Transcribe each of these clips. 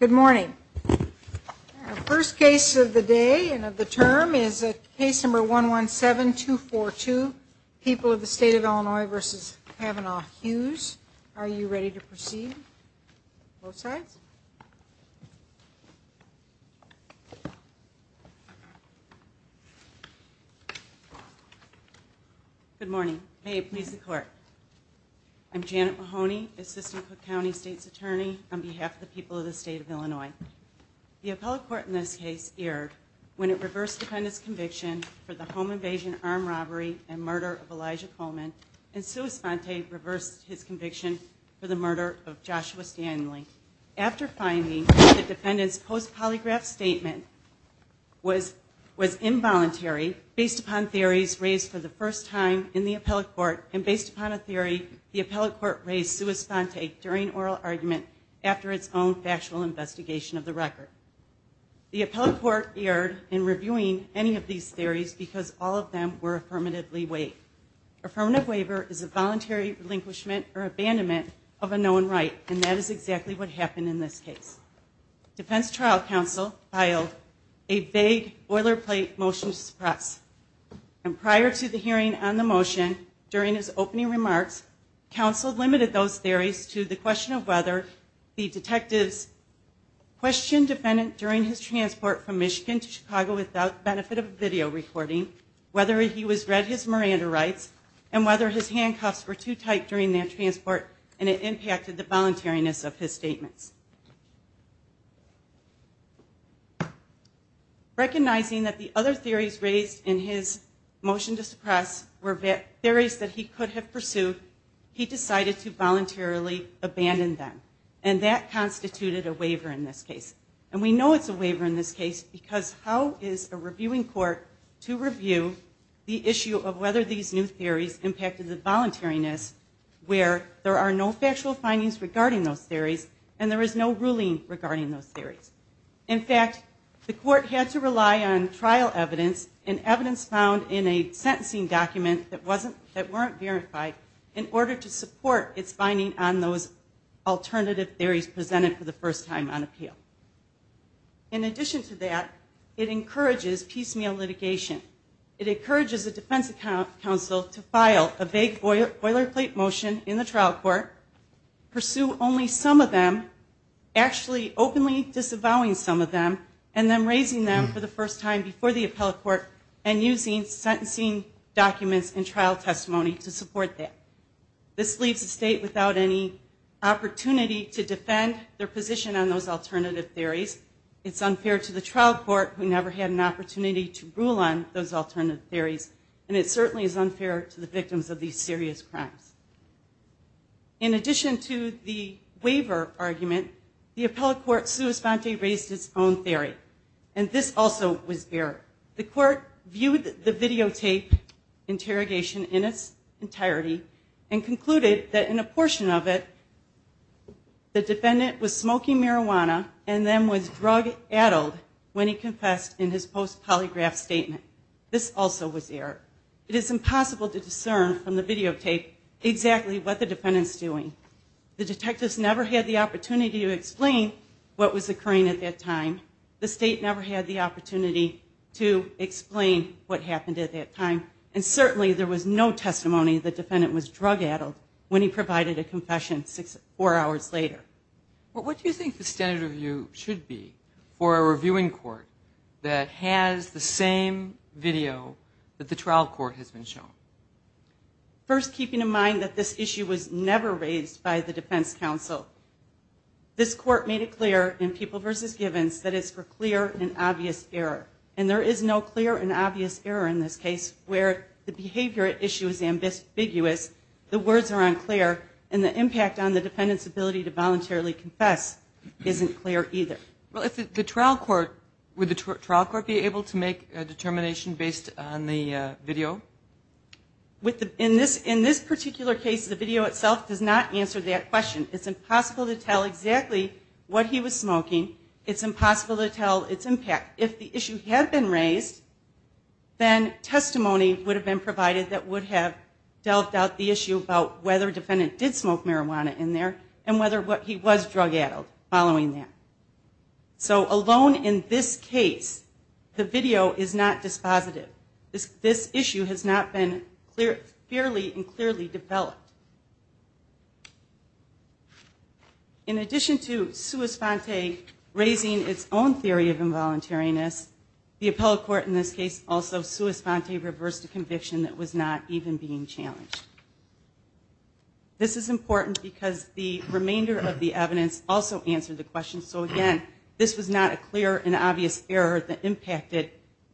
Good morning. First case of the day and of the term is a case number 117242 people of the state of Illinois versus Kavanaugh Hughes. Are you ready to proceed? Good morning. May it please the court. I'm Janet Mahoney, Assistant Cook County State's Attorney on behalf of the people of the state of Illinois. The appellate court in this case erred when it reversed the defendant's conviction for the home invasion, armed robbery, and murder of Elijah Coleman and Sua Sponte reversed his conviction for the murder of Joshua Stanley. After finding the defendant's post polygraph statement was involuntary based upon theories raised for the first time in the appellate court and based upon a theory the appellate court raised Sua Sponte during oral argument after its own factual investigation of the record. The appellate court erred in reviewing any of these theories because all of them were affirmatively waived. Affirmative waiver is a voluntary relinquishment or abandonment of a known right and that is exactly what happened in this case. Defense trial counsel filed a vague boilerplate motion to suppress and prior to the hearing on the motion during his opening remarks, counsel limited those theories to the question of whether the detectives questioned defendant during his transport from Michigan to Chicago without benefit of a video recording, whether he was read his Miranda rights, and whether his handcuffs were too tight during their transport and it impacted the voluntariness of his statements. Recognizing that the other theories raised in his motion to suppress were theories that he could have pursued, he decided to voluntarily abandon them and that constituted a waiver in this case. And we know it's a waiver in this case because how is a reviewing court to review the issue of whether these new theories impacted the voluntariness where there are no factual findings regarding those theories and there is no ruling regarding those theories. In fact, the court had to rely on trial evidence and evidence found in a sentencing document that wasn't, that weren't verified in order to support its finding on those alternative theories presented for the first time on appeal. In addition to that, it encourages piecemeal litigation. It encourages a defense counsel to file a vague boilerplate motion in the trial court, pursue only some of them, actually openly disavowing some of them, and then raising them for the first time before the appellate court and using sentencing documents and trial testimony to support that. This leaves the state without any opportunity to defend their position on those alternative theories. It's unfair to the trial court who never had an opportunity to rule on those alternative theories and it certainly is unfair to the victims of these serious crimes. In addition to the waiver argument, the appellate court sui sponte raised its own theory and this also was error. The court viewed the videotape interrogation in its entirety and concluded that in a portion of it, the defendant was smoking marijuana and then was drug addled when he confessed in his post polygraph statement. This also was error. It is impossible to discern from the videotape exactly what the defendant's doing. The detectives never had the opportunity to the state never had the opportunity to explain what happened at that time and certainly there was no testimony that the defendant was drug addled when he provided a confession four hours later. But what do you think the standard review should be for a reviewing court that has the same video that the trial court has been shown? First, keeping in mind that this issue was never raised by the defense counsel, this court made it clear in People v. Givens that it's for clear and obvious error. And there is no clear and obvious error in this case where the behavior issue is ambiguous, the words are unclear, and the impact on the defendant's ability to voluntarily confess isn't clear either. Well, if the trial court, would the trial court be able to make a determination based on the video? In this particular case, the video itself does not answer that question. It's impossible to tell exactly what he was smoking. It's impossible to tell its impact. If the issue had been raised, then testimony would have been provided that would have dealt out the issue about whether the defendant did smoke marijuana in there and whether he was drug addled following that. So alone in this case, the video is not dispositive. This issue has not been fairly and clearly developed. In addition to sua sponte raising its own theory of involuntariness, the appellate court in this case also sua sponte reversed a conviction that was not even being challenged. This is important because the remainder of the evidence also answered the question. So again, this was not a clear and obvious error that impacted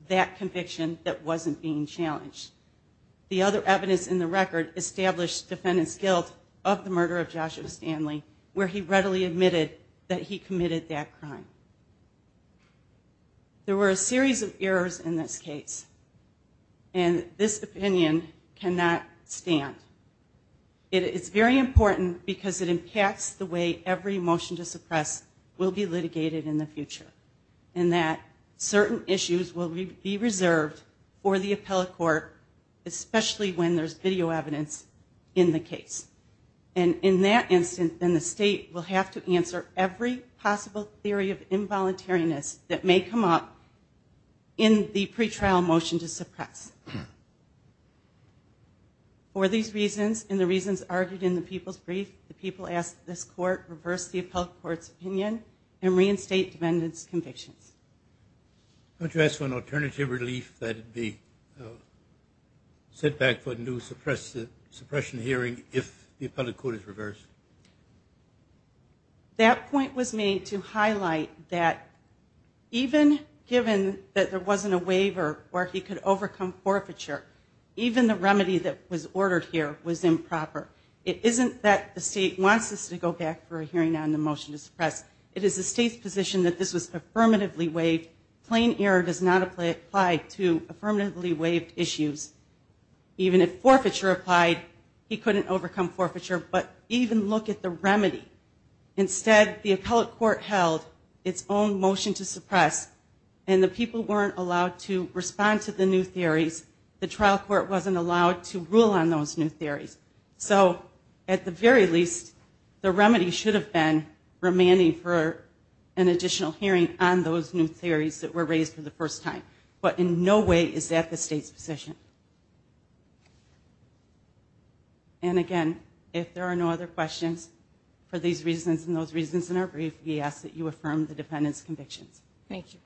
that conviction that wasn't being challenged. The other evidence in the record established defendant's guilt of the murder of Joshua Stanley, where he readily admitted that he committed that crime. There were a series of errors in this case and this opinion cannot stand. It is very important because it impacts the way every motion to suppress will be litigated in the future, in that certain issues will be reserved for the appellate court, especially when there's video evidence in the case. And in that instance, then the state will have to answer every possible theory of involuntariness that may come up in the pretrial motion to suppress. For these reasons and the reasons argued in the people's brief, the people ask that this court reverse the appellate court's opinion and reinstate defendant's convictions. I want to ask for an alternative relief that it be set back for a new suppression hearing if the appellate court is reversed. That point was made to highlight that even given that there wasn't a waiver where he could overcome forfeiture, even the remedy that was ordered here was improper. It isn't that the state wants us to go back for a hearing on the motion to suppress. It is the state's position that this was affirmatively waived. Plain error does not apply to affirmatively waived issues. Even if forfeiture applied, he couldn't overcome forfeiture. But even look at the remedy. Instead, the appellate court held its own motion to suppress and the people weren't allowed to respond to the new theories. The trial court wasn't allowed to rule on those new theories. So, at the very least, the remedy should have been remanding for an additional hearing on those new theories that were raised for the first time. But in no way is that the state's position. And again, if there are no other questions, for these reasons and those reasons in our brief, we ask that you affirm the defendant's convictions. Thank you.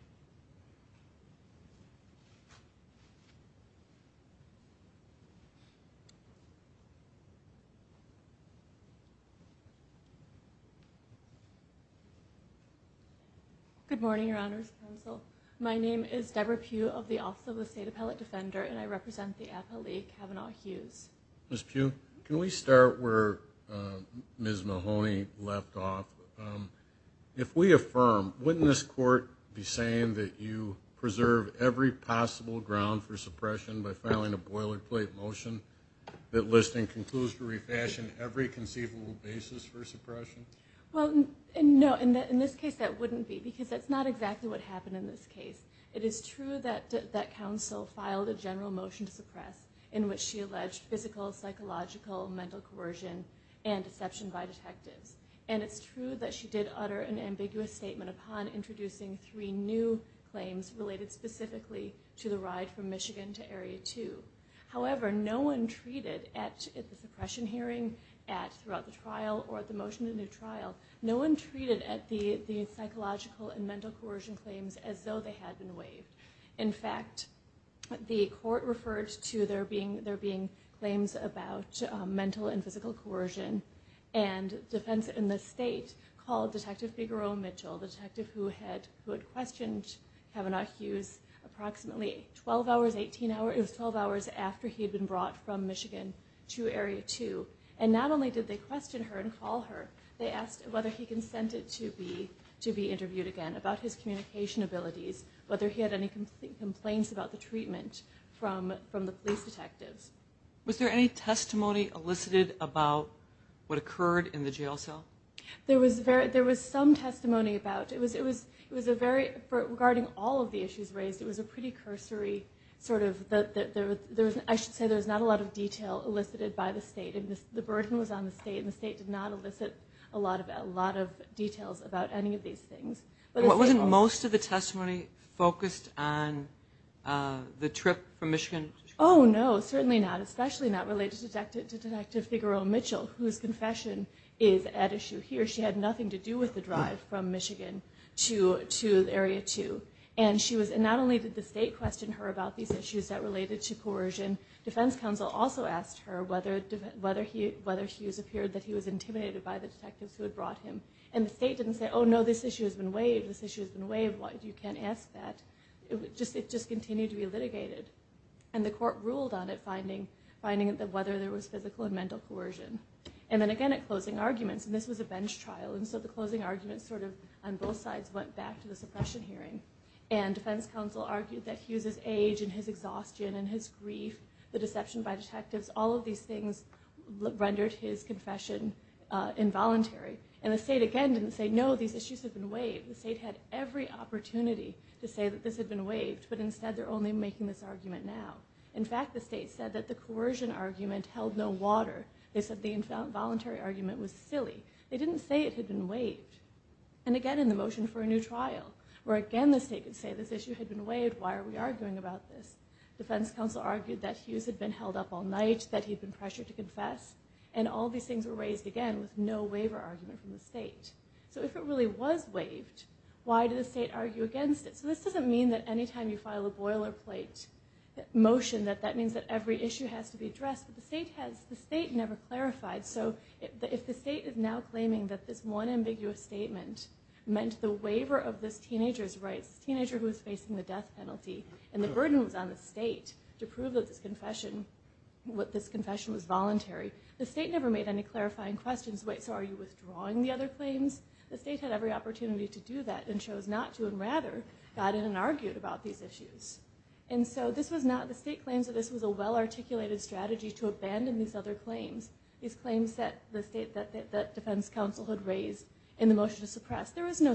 Good morning, Your Honor's Counsel. My name is Debra Pugh of the Office of the State Appellate Defender and I represent the appellee, Kavanaugh Hughes. Ms. Pugh, can we start where Ms. Mahoney left off? If we affirm, wouldn't this court be saying that you preserve every possible ground for suppression by filing a boilerplate motion that listing concludes to refashion every conceivable basis for suppression? Well, no, in this case that wouldn't be because that's not exactly what happened in this case. It is true that counsel filed a general motion to suppress in which she alleged physical, psychological, mental coercion and deception by detectives. And it's true that she did utter an ambiguous statement upon introducing three new claims related specifically to the ride from Michigan to Area 2. However, no one treated at the suppression hearing, at throughout the trial, or at the motion in the trial, no one treated at the psychological and mental coercion claims as though they had been waived. In fact, the court referred to there being claims about mental and physical coercion and defense in the state called Detective Figaro Mitchell, the detective who had questioned Kavanaugh Hughes approximately 12 hours, 18 hours, it was 12 hours after he had been brought from Michigan to Area 2. And not only did they question her and call her, they asked whether he consented to be interviewed again about his communication abilities, whether he had any complaints about the treatment from the police detectives. Was there any testimony elicited about what occurred in the jail cell? There was some testimony about, regarding all of the issues raised, it was a pretty cursory sort of, I should say there's not a lot of detail elicited by the state, and the burden was on the state, and the state did not elicit a lot of details about any of these things. But- What wasn't most of the testimony focused on the trip from Michigan? No, certainly not, especially not related to Detective Figaro Mitchell, whose confession is at issue here. She had nothing to do with the drive from Michigan to Area 2. And she was, and not only did the state question her about these issues that also asked her whether Hughes appeared that he was intimidated by the detectives who had brought him. And the state didn't say, no, this issue has been waived, this issue has been waived, you can't ask that. It just continued to be litigated. And the court ruled on it, finding that whether there was physical and mental coercion. And then again at closing arguments, and this was a bench trial, and so the closing arguments sort of on both sides went back to the suppression hearing. And defense counsel argued that Hughes' age and his exhaustion and his grief, the deception by detectives, all of these things rendered his confession involuntary. And the state again didn't say, no, these issues have been waived. The state had every opportunity to say that this had been waived, but instead they're only making this argument now. In fact, the state said that the coercion argument held no water. They said the involuntary argument was silly. They didn't say it had been waived. And again in the motion for a new trial, where again the state could say this issue had been waived, why are we arguing about this? Defense counsel argued that Hughes had been held up all night, that he'd been pressured to confess. And all these things were raised again with no waiver argument from the state. So if it really was waived, why did the state argue against it? So this doesn't mean that any time you file a boilerplate motion, that that means that every issue has to be addressed. But the state never clarified. So if the state is now claiming that this one ambiguous statement meant the waiver of this teenager's rights, this teenager who was facing the death penalty, and the burden was on the state to prove that this confession was voluntary, the state never made any clarifying questions. Wait, so are you withdrawing the other claims? The state had every opportunity to do that and chose not to, and rather got in and argued about these issues. And so the state claims that this was a well articulated strategy to abandon these other claims, these claims that the defense counsel had raised in the motion to suppress. There was no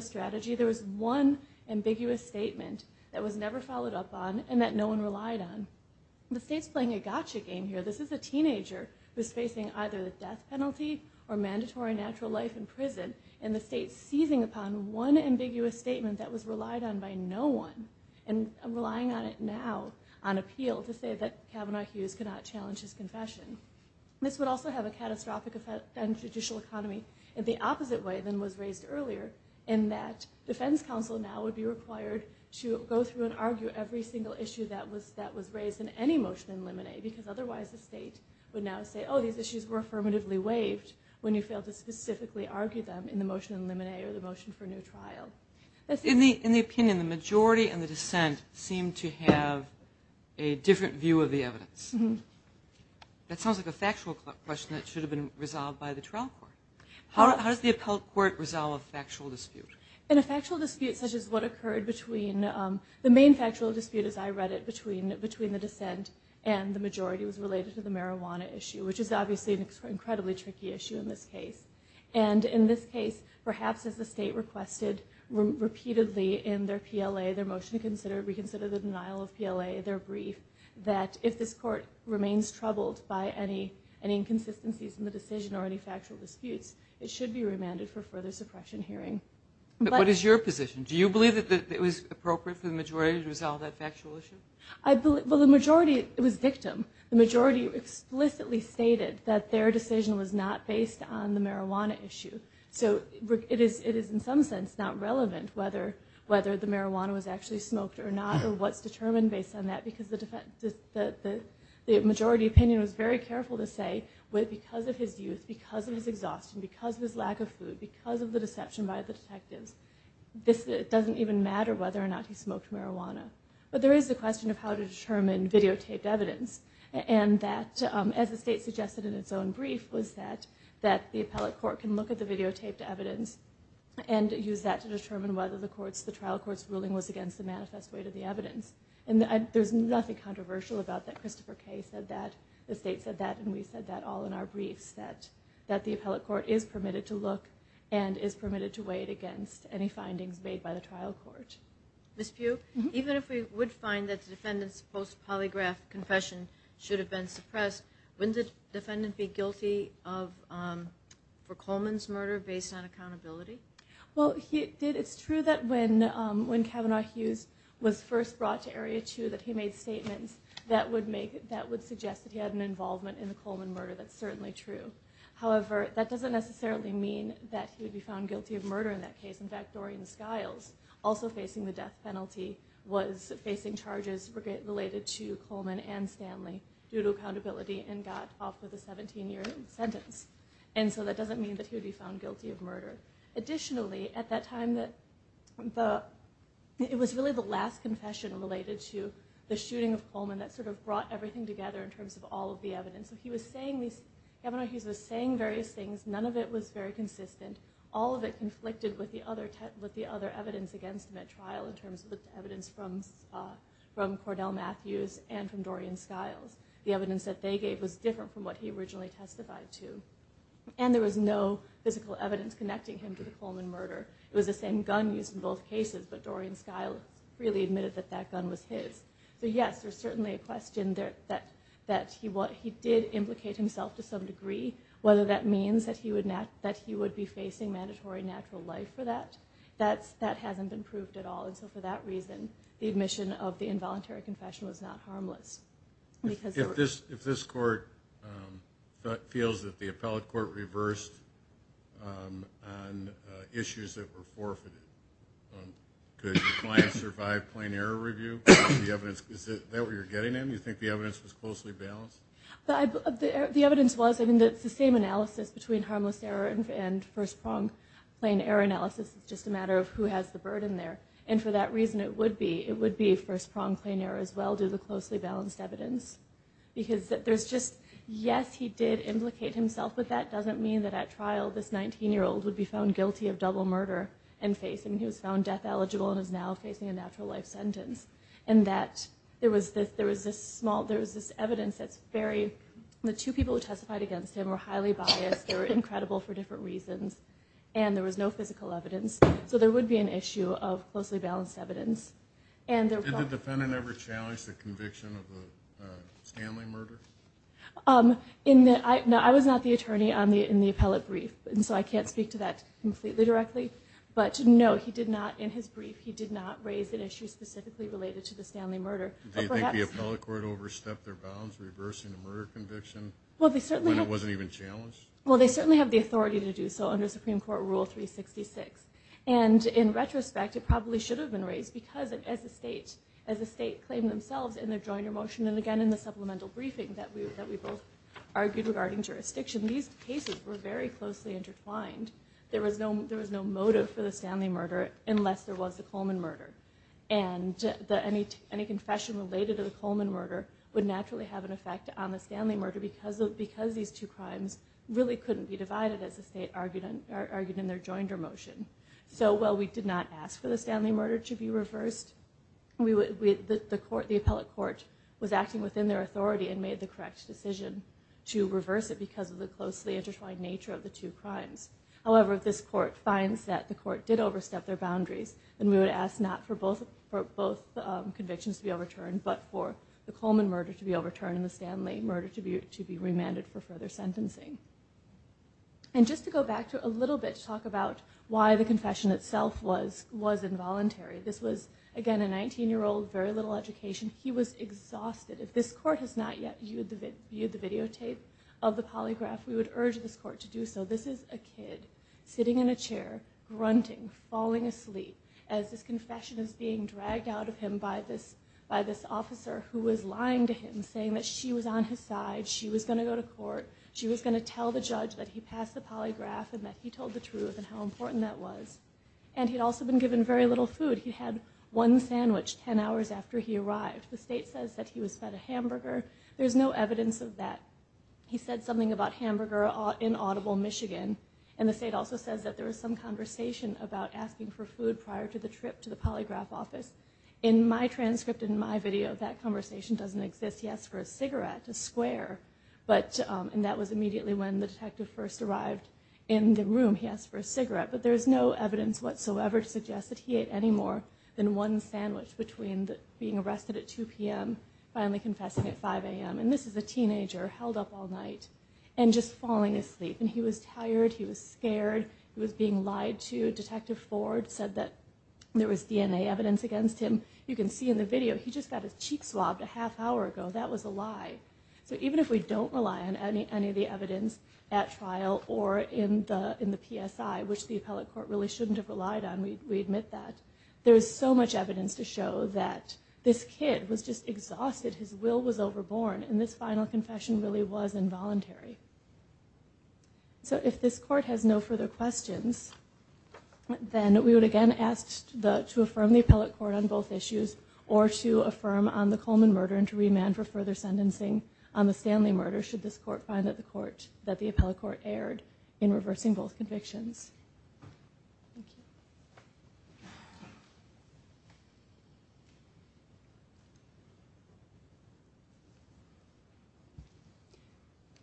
strategy. There was one ambiguous statement that was never followed up on and that no one relied on. The state's playing a gotcha game here. This is a teenager who's facing either the death penalty or mandatory natural life in prison. And the state's seizing upon one ambiguous statement that was relied on by no one. And relying on it now, on appeal, to say that Kavanaugh Hughes could not challenge his confession. This would also have a catastrophic effect on judicial economy in the opposite way than was raised earlier, in that defense counsel now would be required to go through and argue every single issue that was raised in any motion in limine, because otherwise the state would now say, these issues were affirmatively waived when you failed to specifically argue them in the motion in limine or the motion for new trial. In the opinion, the majority and the dissent seem to have a different view of the evidence. Mm-hm. That sounds like a factual question that should have been resolved by the trial court. How does the appellate court resolve a factual dispute? In a factual dispute such as what occurred between, the main factual dispute, as I read it, between the dissent and the majority was related to the marijuana issue, which is obviously an incredibly tricky issue in this case. And in this case, perhaps as the state requested repeatedly in their PLA, their motion to reconsider the denial of PLA, their brief, that if this court remains troubled by any inconsistencies in the decision or any factual disputes, it should be remanded for further suppression hearing. But what is your position? Do you believe that it was appropriate for the majority to resolve that factual issue? I believe, well, the majority, it was victim. The majority explicitly stated that their decision was not based on the marijuana issue. So it is in some sense not relevant whether the marijuana was actually smoked or not or what's determined based on that because the majority opinion was very careful to say, well, because of his youth, because of his exhaustion, because of his lack of food, because of the deception by the detectives, this doesn't even matter whether or not he smoked marijuana. But there is a question of how to determine videotaped evidence. And that, as the state suggested in its own brief, was that the appellate court can look at the videotaped evidence and use that to determine whether the trial court's ruling was against the manifest weight of the evidence. And there's nothing controversial about that. Christopher Kaye said that. The state said that, and we said that all in our briefs, that the appellate court is permitted to look and is permitted to weigh it against any findings made by the trial court. Ms. Pugh, even if we would find that the defendant's post-polygraph confession should have been suppressed, wouldn't the defendant be guilty for Coleman's murder based on accountability? Well, it's true that when Kavanaugh Hughes was first brought to Area 2, that he made statements that would suggest that he had an involvement in the Coleman murder, that's certainly true. However, that doesn't necessarily mean that he would be found guilty of murder in that case. In fact, Dorian Skiles, also facing the death penalty, was facing charges related to Coleman and Stanley due to accountability and got off with a 17-year sentence. And so that doesn't mean that he would be found guilty of murder. Additionally, at that time, it was really the last confession related to the shooting of Coleman that sort of brought everything together in terms of all of the evidence. So he was saying these, Kavanaugh Hughes was saying various things, none of it was very consistent. All of it conflicted with the other evidence against him at trial in terms of the evidence from Cordell Matthews and from Dorian Skiles. The evidence that they gave was different from what he originally testified to. And there was no physical evidence connecting him to the Coleman murder. It was the same gun used in both cases, but Dorian Skiles freely admitted that that gun was his. So yes, there's certainly a question that he did implicate himself to some degree. Whether that means that he would be facing mandatory natural life for that, that hasn't been proved at all. And so for that reason, the admission of the involuntary confession was not harmless. Because- If this court feels that the appellate court reversed on issues that were forfeited. Could the client survive plain error review? Is that what you're getting at? Do you think the evidence was closely balanced? The evidence was, I mean, it's the same analysis between harmless error and first prong plain error analysis. It's just a matter of who has the burden there. And for that reason, it would be first prong plain error as well, do the closely balanced evidence. Because there's just, yes, he did implicate himself with that. Doesn't mean that at trial, this 19 year old would be found guilty of double murder and facing, he was found death eligible and is now facing a natural life sentence. And that there was this small, there was this evidence that's very, the two people who testified against him were highly biased. They were incredible for different reasons. And there was no physical evidence. So there would be an issue of closely balanced evidence. And the- Did the defendant ever challenge the conviction of the Stanley murder? In the, no, I was not the attorney in the appellate brief, and so I can't speak to that completely directly. But no, he did not, in his brief, he did not raise an issue specifically related to the Stanley murder. But perhaps- Do you think the appellate court overstepped their bounds, reversing the murder conviction? Well, they certainly- When it wasn't even challenged? Well, they certainly have the authority to do so under Supreme Court Rule 366. And in retrospect, it probably should have been raised because, as the state, as the state claimed themselves in their joiner motion, and again, in the supplemental briefing that we both argued regarding jurisdiction, these cases were very closely intertwined. There was no motive for the Stanley murder unless there was a Coleman murder. And any confession related to the Coleman murder would naturally have an effect provided as the state argued in their joiner motion. So while we did not ask for the Stanley murder to be reversed, the appellate court was acting within their authority and made the correct decision to reverse it because of the closely intertwined nature of the two crimes. However, if this court finds that the court did overstep their boundaries, then we would ask not for both convictions to be overturned, but for the Coleman murder to be overturned and the Stanley murder to be remanded for further sentencing. And just to go back to a little bit to talk about why the confession itself was involuntary, this was, again, a 19-year-old, very little education. He was exhausted. If this court has not yet viewed the videotape of the polygraph, we would urge this court to do so. This is a kid sitting in a chair, grunting, falling asleep, as this confession is being dragged out of him by this officer who was lying to him, saying that she was on his side, she was gonna go to court, she was gonna tell the judge that he passed the polygraph and that he told the truth and how important that was. And he'd also been given very little food. He had one sandwich ten hours after he arrived. The state says that he was fed a hamburger. There's no evidence of that. He said something about hamburger in Audible, Michigan. And the state also says that there was some conversation about asking for food prior to the trip to the polygraph office. In my transcript, in my video, that conversation doesn't exist. He asked for a cigarette, a square. But, and that was immediately when the detective first arrived in the room, he asked for a cigarette. But there's no evidence whatsoever to suggest that he ate any more than one sandwich between being arrested at 2 PM, finally confessing at 5 AM. And this is a teenager held up all night and just falling asleep. And he was tired, he was scared, he was being lied to. Detective Ford said that there was DNA evidence against him. You can see in the video, he just got his cheek swabbed a half hour ago. That was a lie. So even if we don't rely on any of the evidence at trial or in the PSI, which the appellate court really shouldn't have relied on, we admit that. There's so much evidence to show that this kid was just exhausted, his will was overborne, and this final confession really was involuntary. So if this court has no further questions, then we would again ask to affirm the appellate court on both issues, or to affirm on the Coleman murder and to remand for further sentencing on the Stanley murder, should this court find that the appellate court erred in reversing both convictions. Thank you.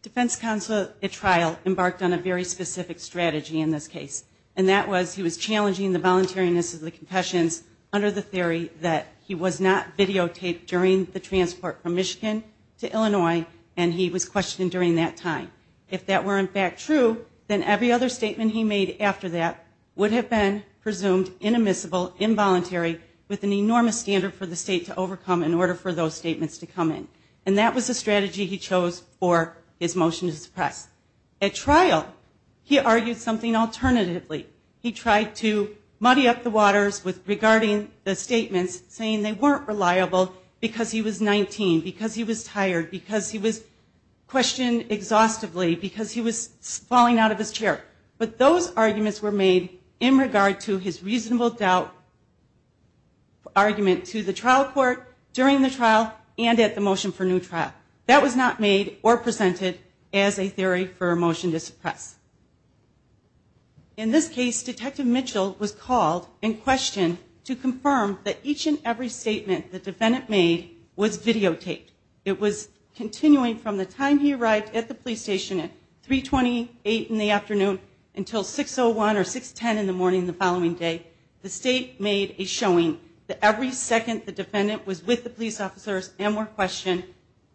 Defense counsel at trial embarked on a very specific strategy in this case. And that was, he was challenging the voluntariness of the confessions under the theory that he was not videotaped during the transport from Michigan to Illinois, and he was questioned during that time. If that were in fact true, then every other statement he made after that would have been presumed inadmissible, involuntary, with an enormous standard for the state to overcome in order for those statements to come in. And that was the strategy he chose for his motion to suppress. At trial, he argued something alternatively. He tried to muddy up the waters regarding the statements, saying they weren't reliable because he was 19, because he was tired, because he was questioned exhaustively, because he was falling out of his chair. But those arguments were made in regard to his reasonable doubt argument to the trial court during the trial and at the motion for new trial. That was not made or presented as a theory for a motion to suppress. In this case, Detective Mitchell was called and questioned to confirm that each and every statement the defendant made was videotaped. It was continuing from the time he arrived at the police station at 3.28 in the afternoon until 6.01 or 6.10 in the morning the following day. The state made a showing that every second the defendant was with the police officers and were questioned,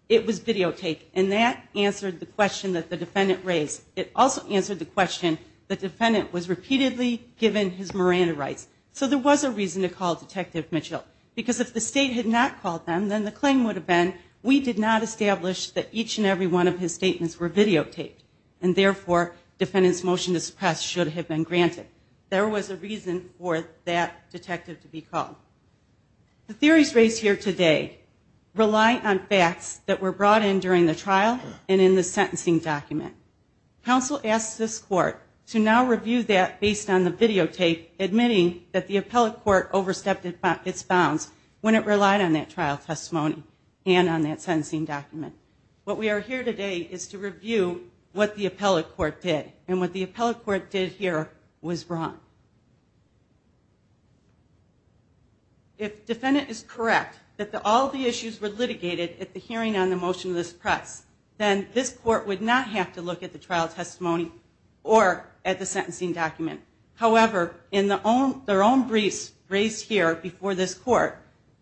it was videotaped. And that answered the question that the defendant raised. It also answered the question the defendant was repeatedly given his Miranda rights. So there was a reason to call Detective Mitchell. Because if the state had not called them, then the claim would have been, we did not establish that each and every one of his statements were videotaped. And therefore, defendant's motion to suppress should have been granted. There was a reason for that detective to be called. The theories raised here today rely on facts that were brought in during the trial and in the sentencing document. Counsel asked this court to now review that based on the videotape, admitting that the appellate court overstepped its bounds when it relied on that trial testimony and on that sentencing document. What we are here today is to review what the appellate court did. And what the appellate court did here was wrong. If defendant is correct that all the issues were litigated at the hearing on the motion to suppress, then this court would not have to look at the trial testimony or at the sentencing document. However, in their own briefs raised here before this court,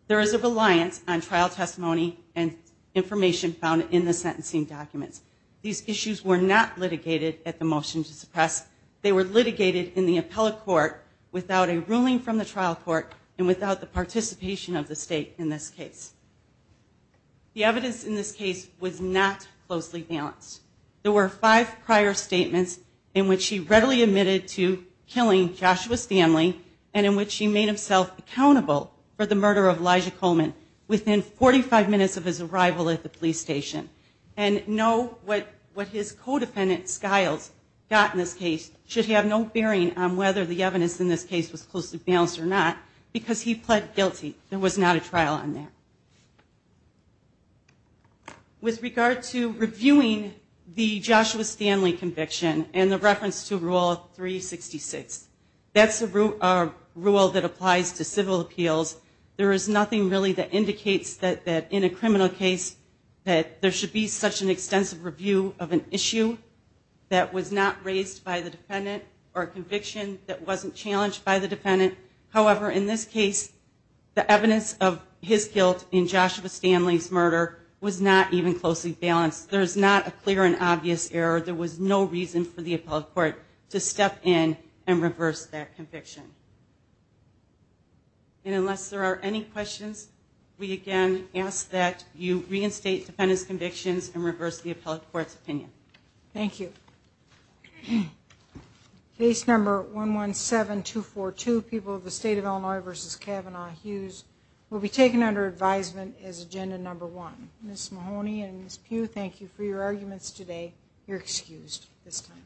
there is a reliance on trial testimony and information found in the sentencing documents. These issues were not litigated at the motion to suppress. They were litigated in the appellate court without a ruling from the trial court and without the participation of the state in this case. The evidence in this case was not closely balanced. There were five prior statements in which he readily admitted to killing Joshua Stanley and in which he made himself accountable for the murder of Elijah Coleman within 45 minutes of his arrival at the police station. And no, what his co-defendant, Skiles, got in this case should have no bearing on whether the evidence in this case was closely balanced or not because he pled guilty. There was not a trial on there. With regard to reviewing the Joshua Stanley conviction and the reference to Rule 366, that's a rule that applies to civil appeals. There is nothing really that indicates that in a criminal case that there should be such an extensive review of an issue that was not raised by the defendant or a conviction that wasn't challenged by the defendant. However, in this case, the evidence of his guilt in Joshua Stanley's murder was not even closely balanced. There's not a clear and obvious error. There was no reason for the appellate court to step in and reverse that conviction. And unless there are any questions, we again ask that you reinstate defendant's convictions and reverse the appellate court's opinion. Thank you. Case number 117242, People of the State of Illinois v. Kavanaugh-Hughes, will be taken under advisement as agenda number one. Ms. Mahoney and Ms. Pugh, thank you for your arguments today. You're excused this time.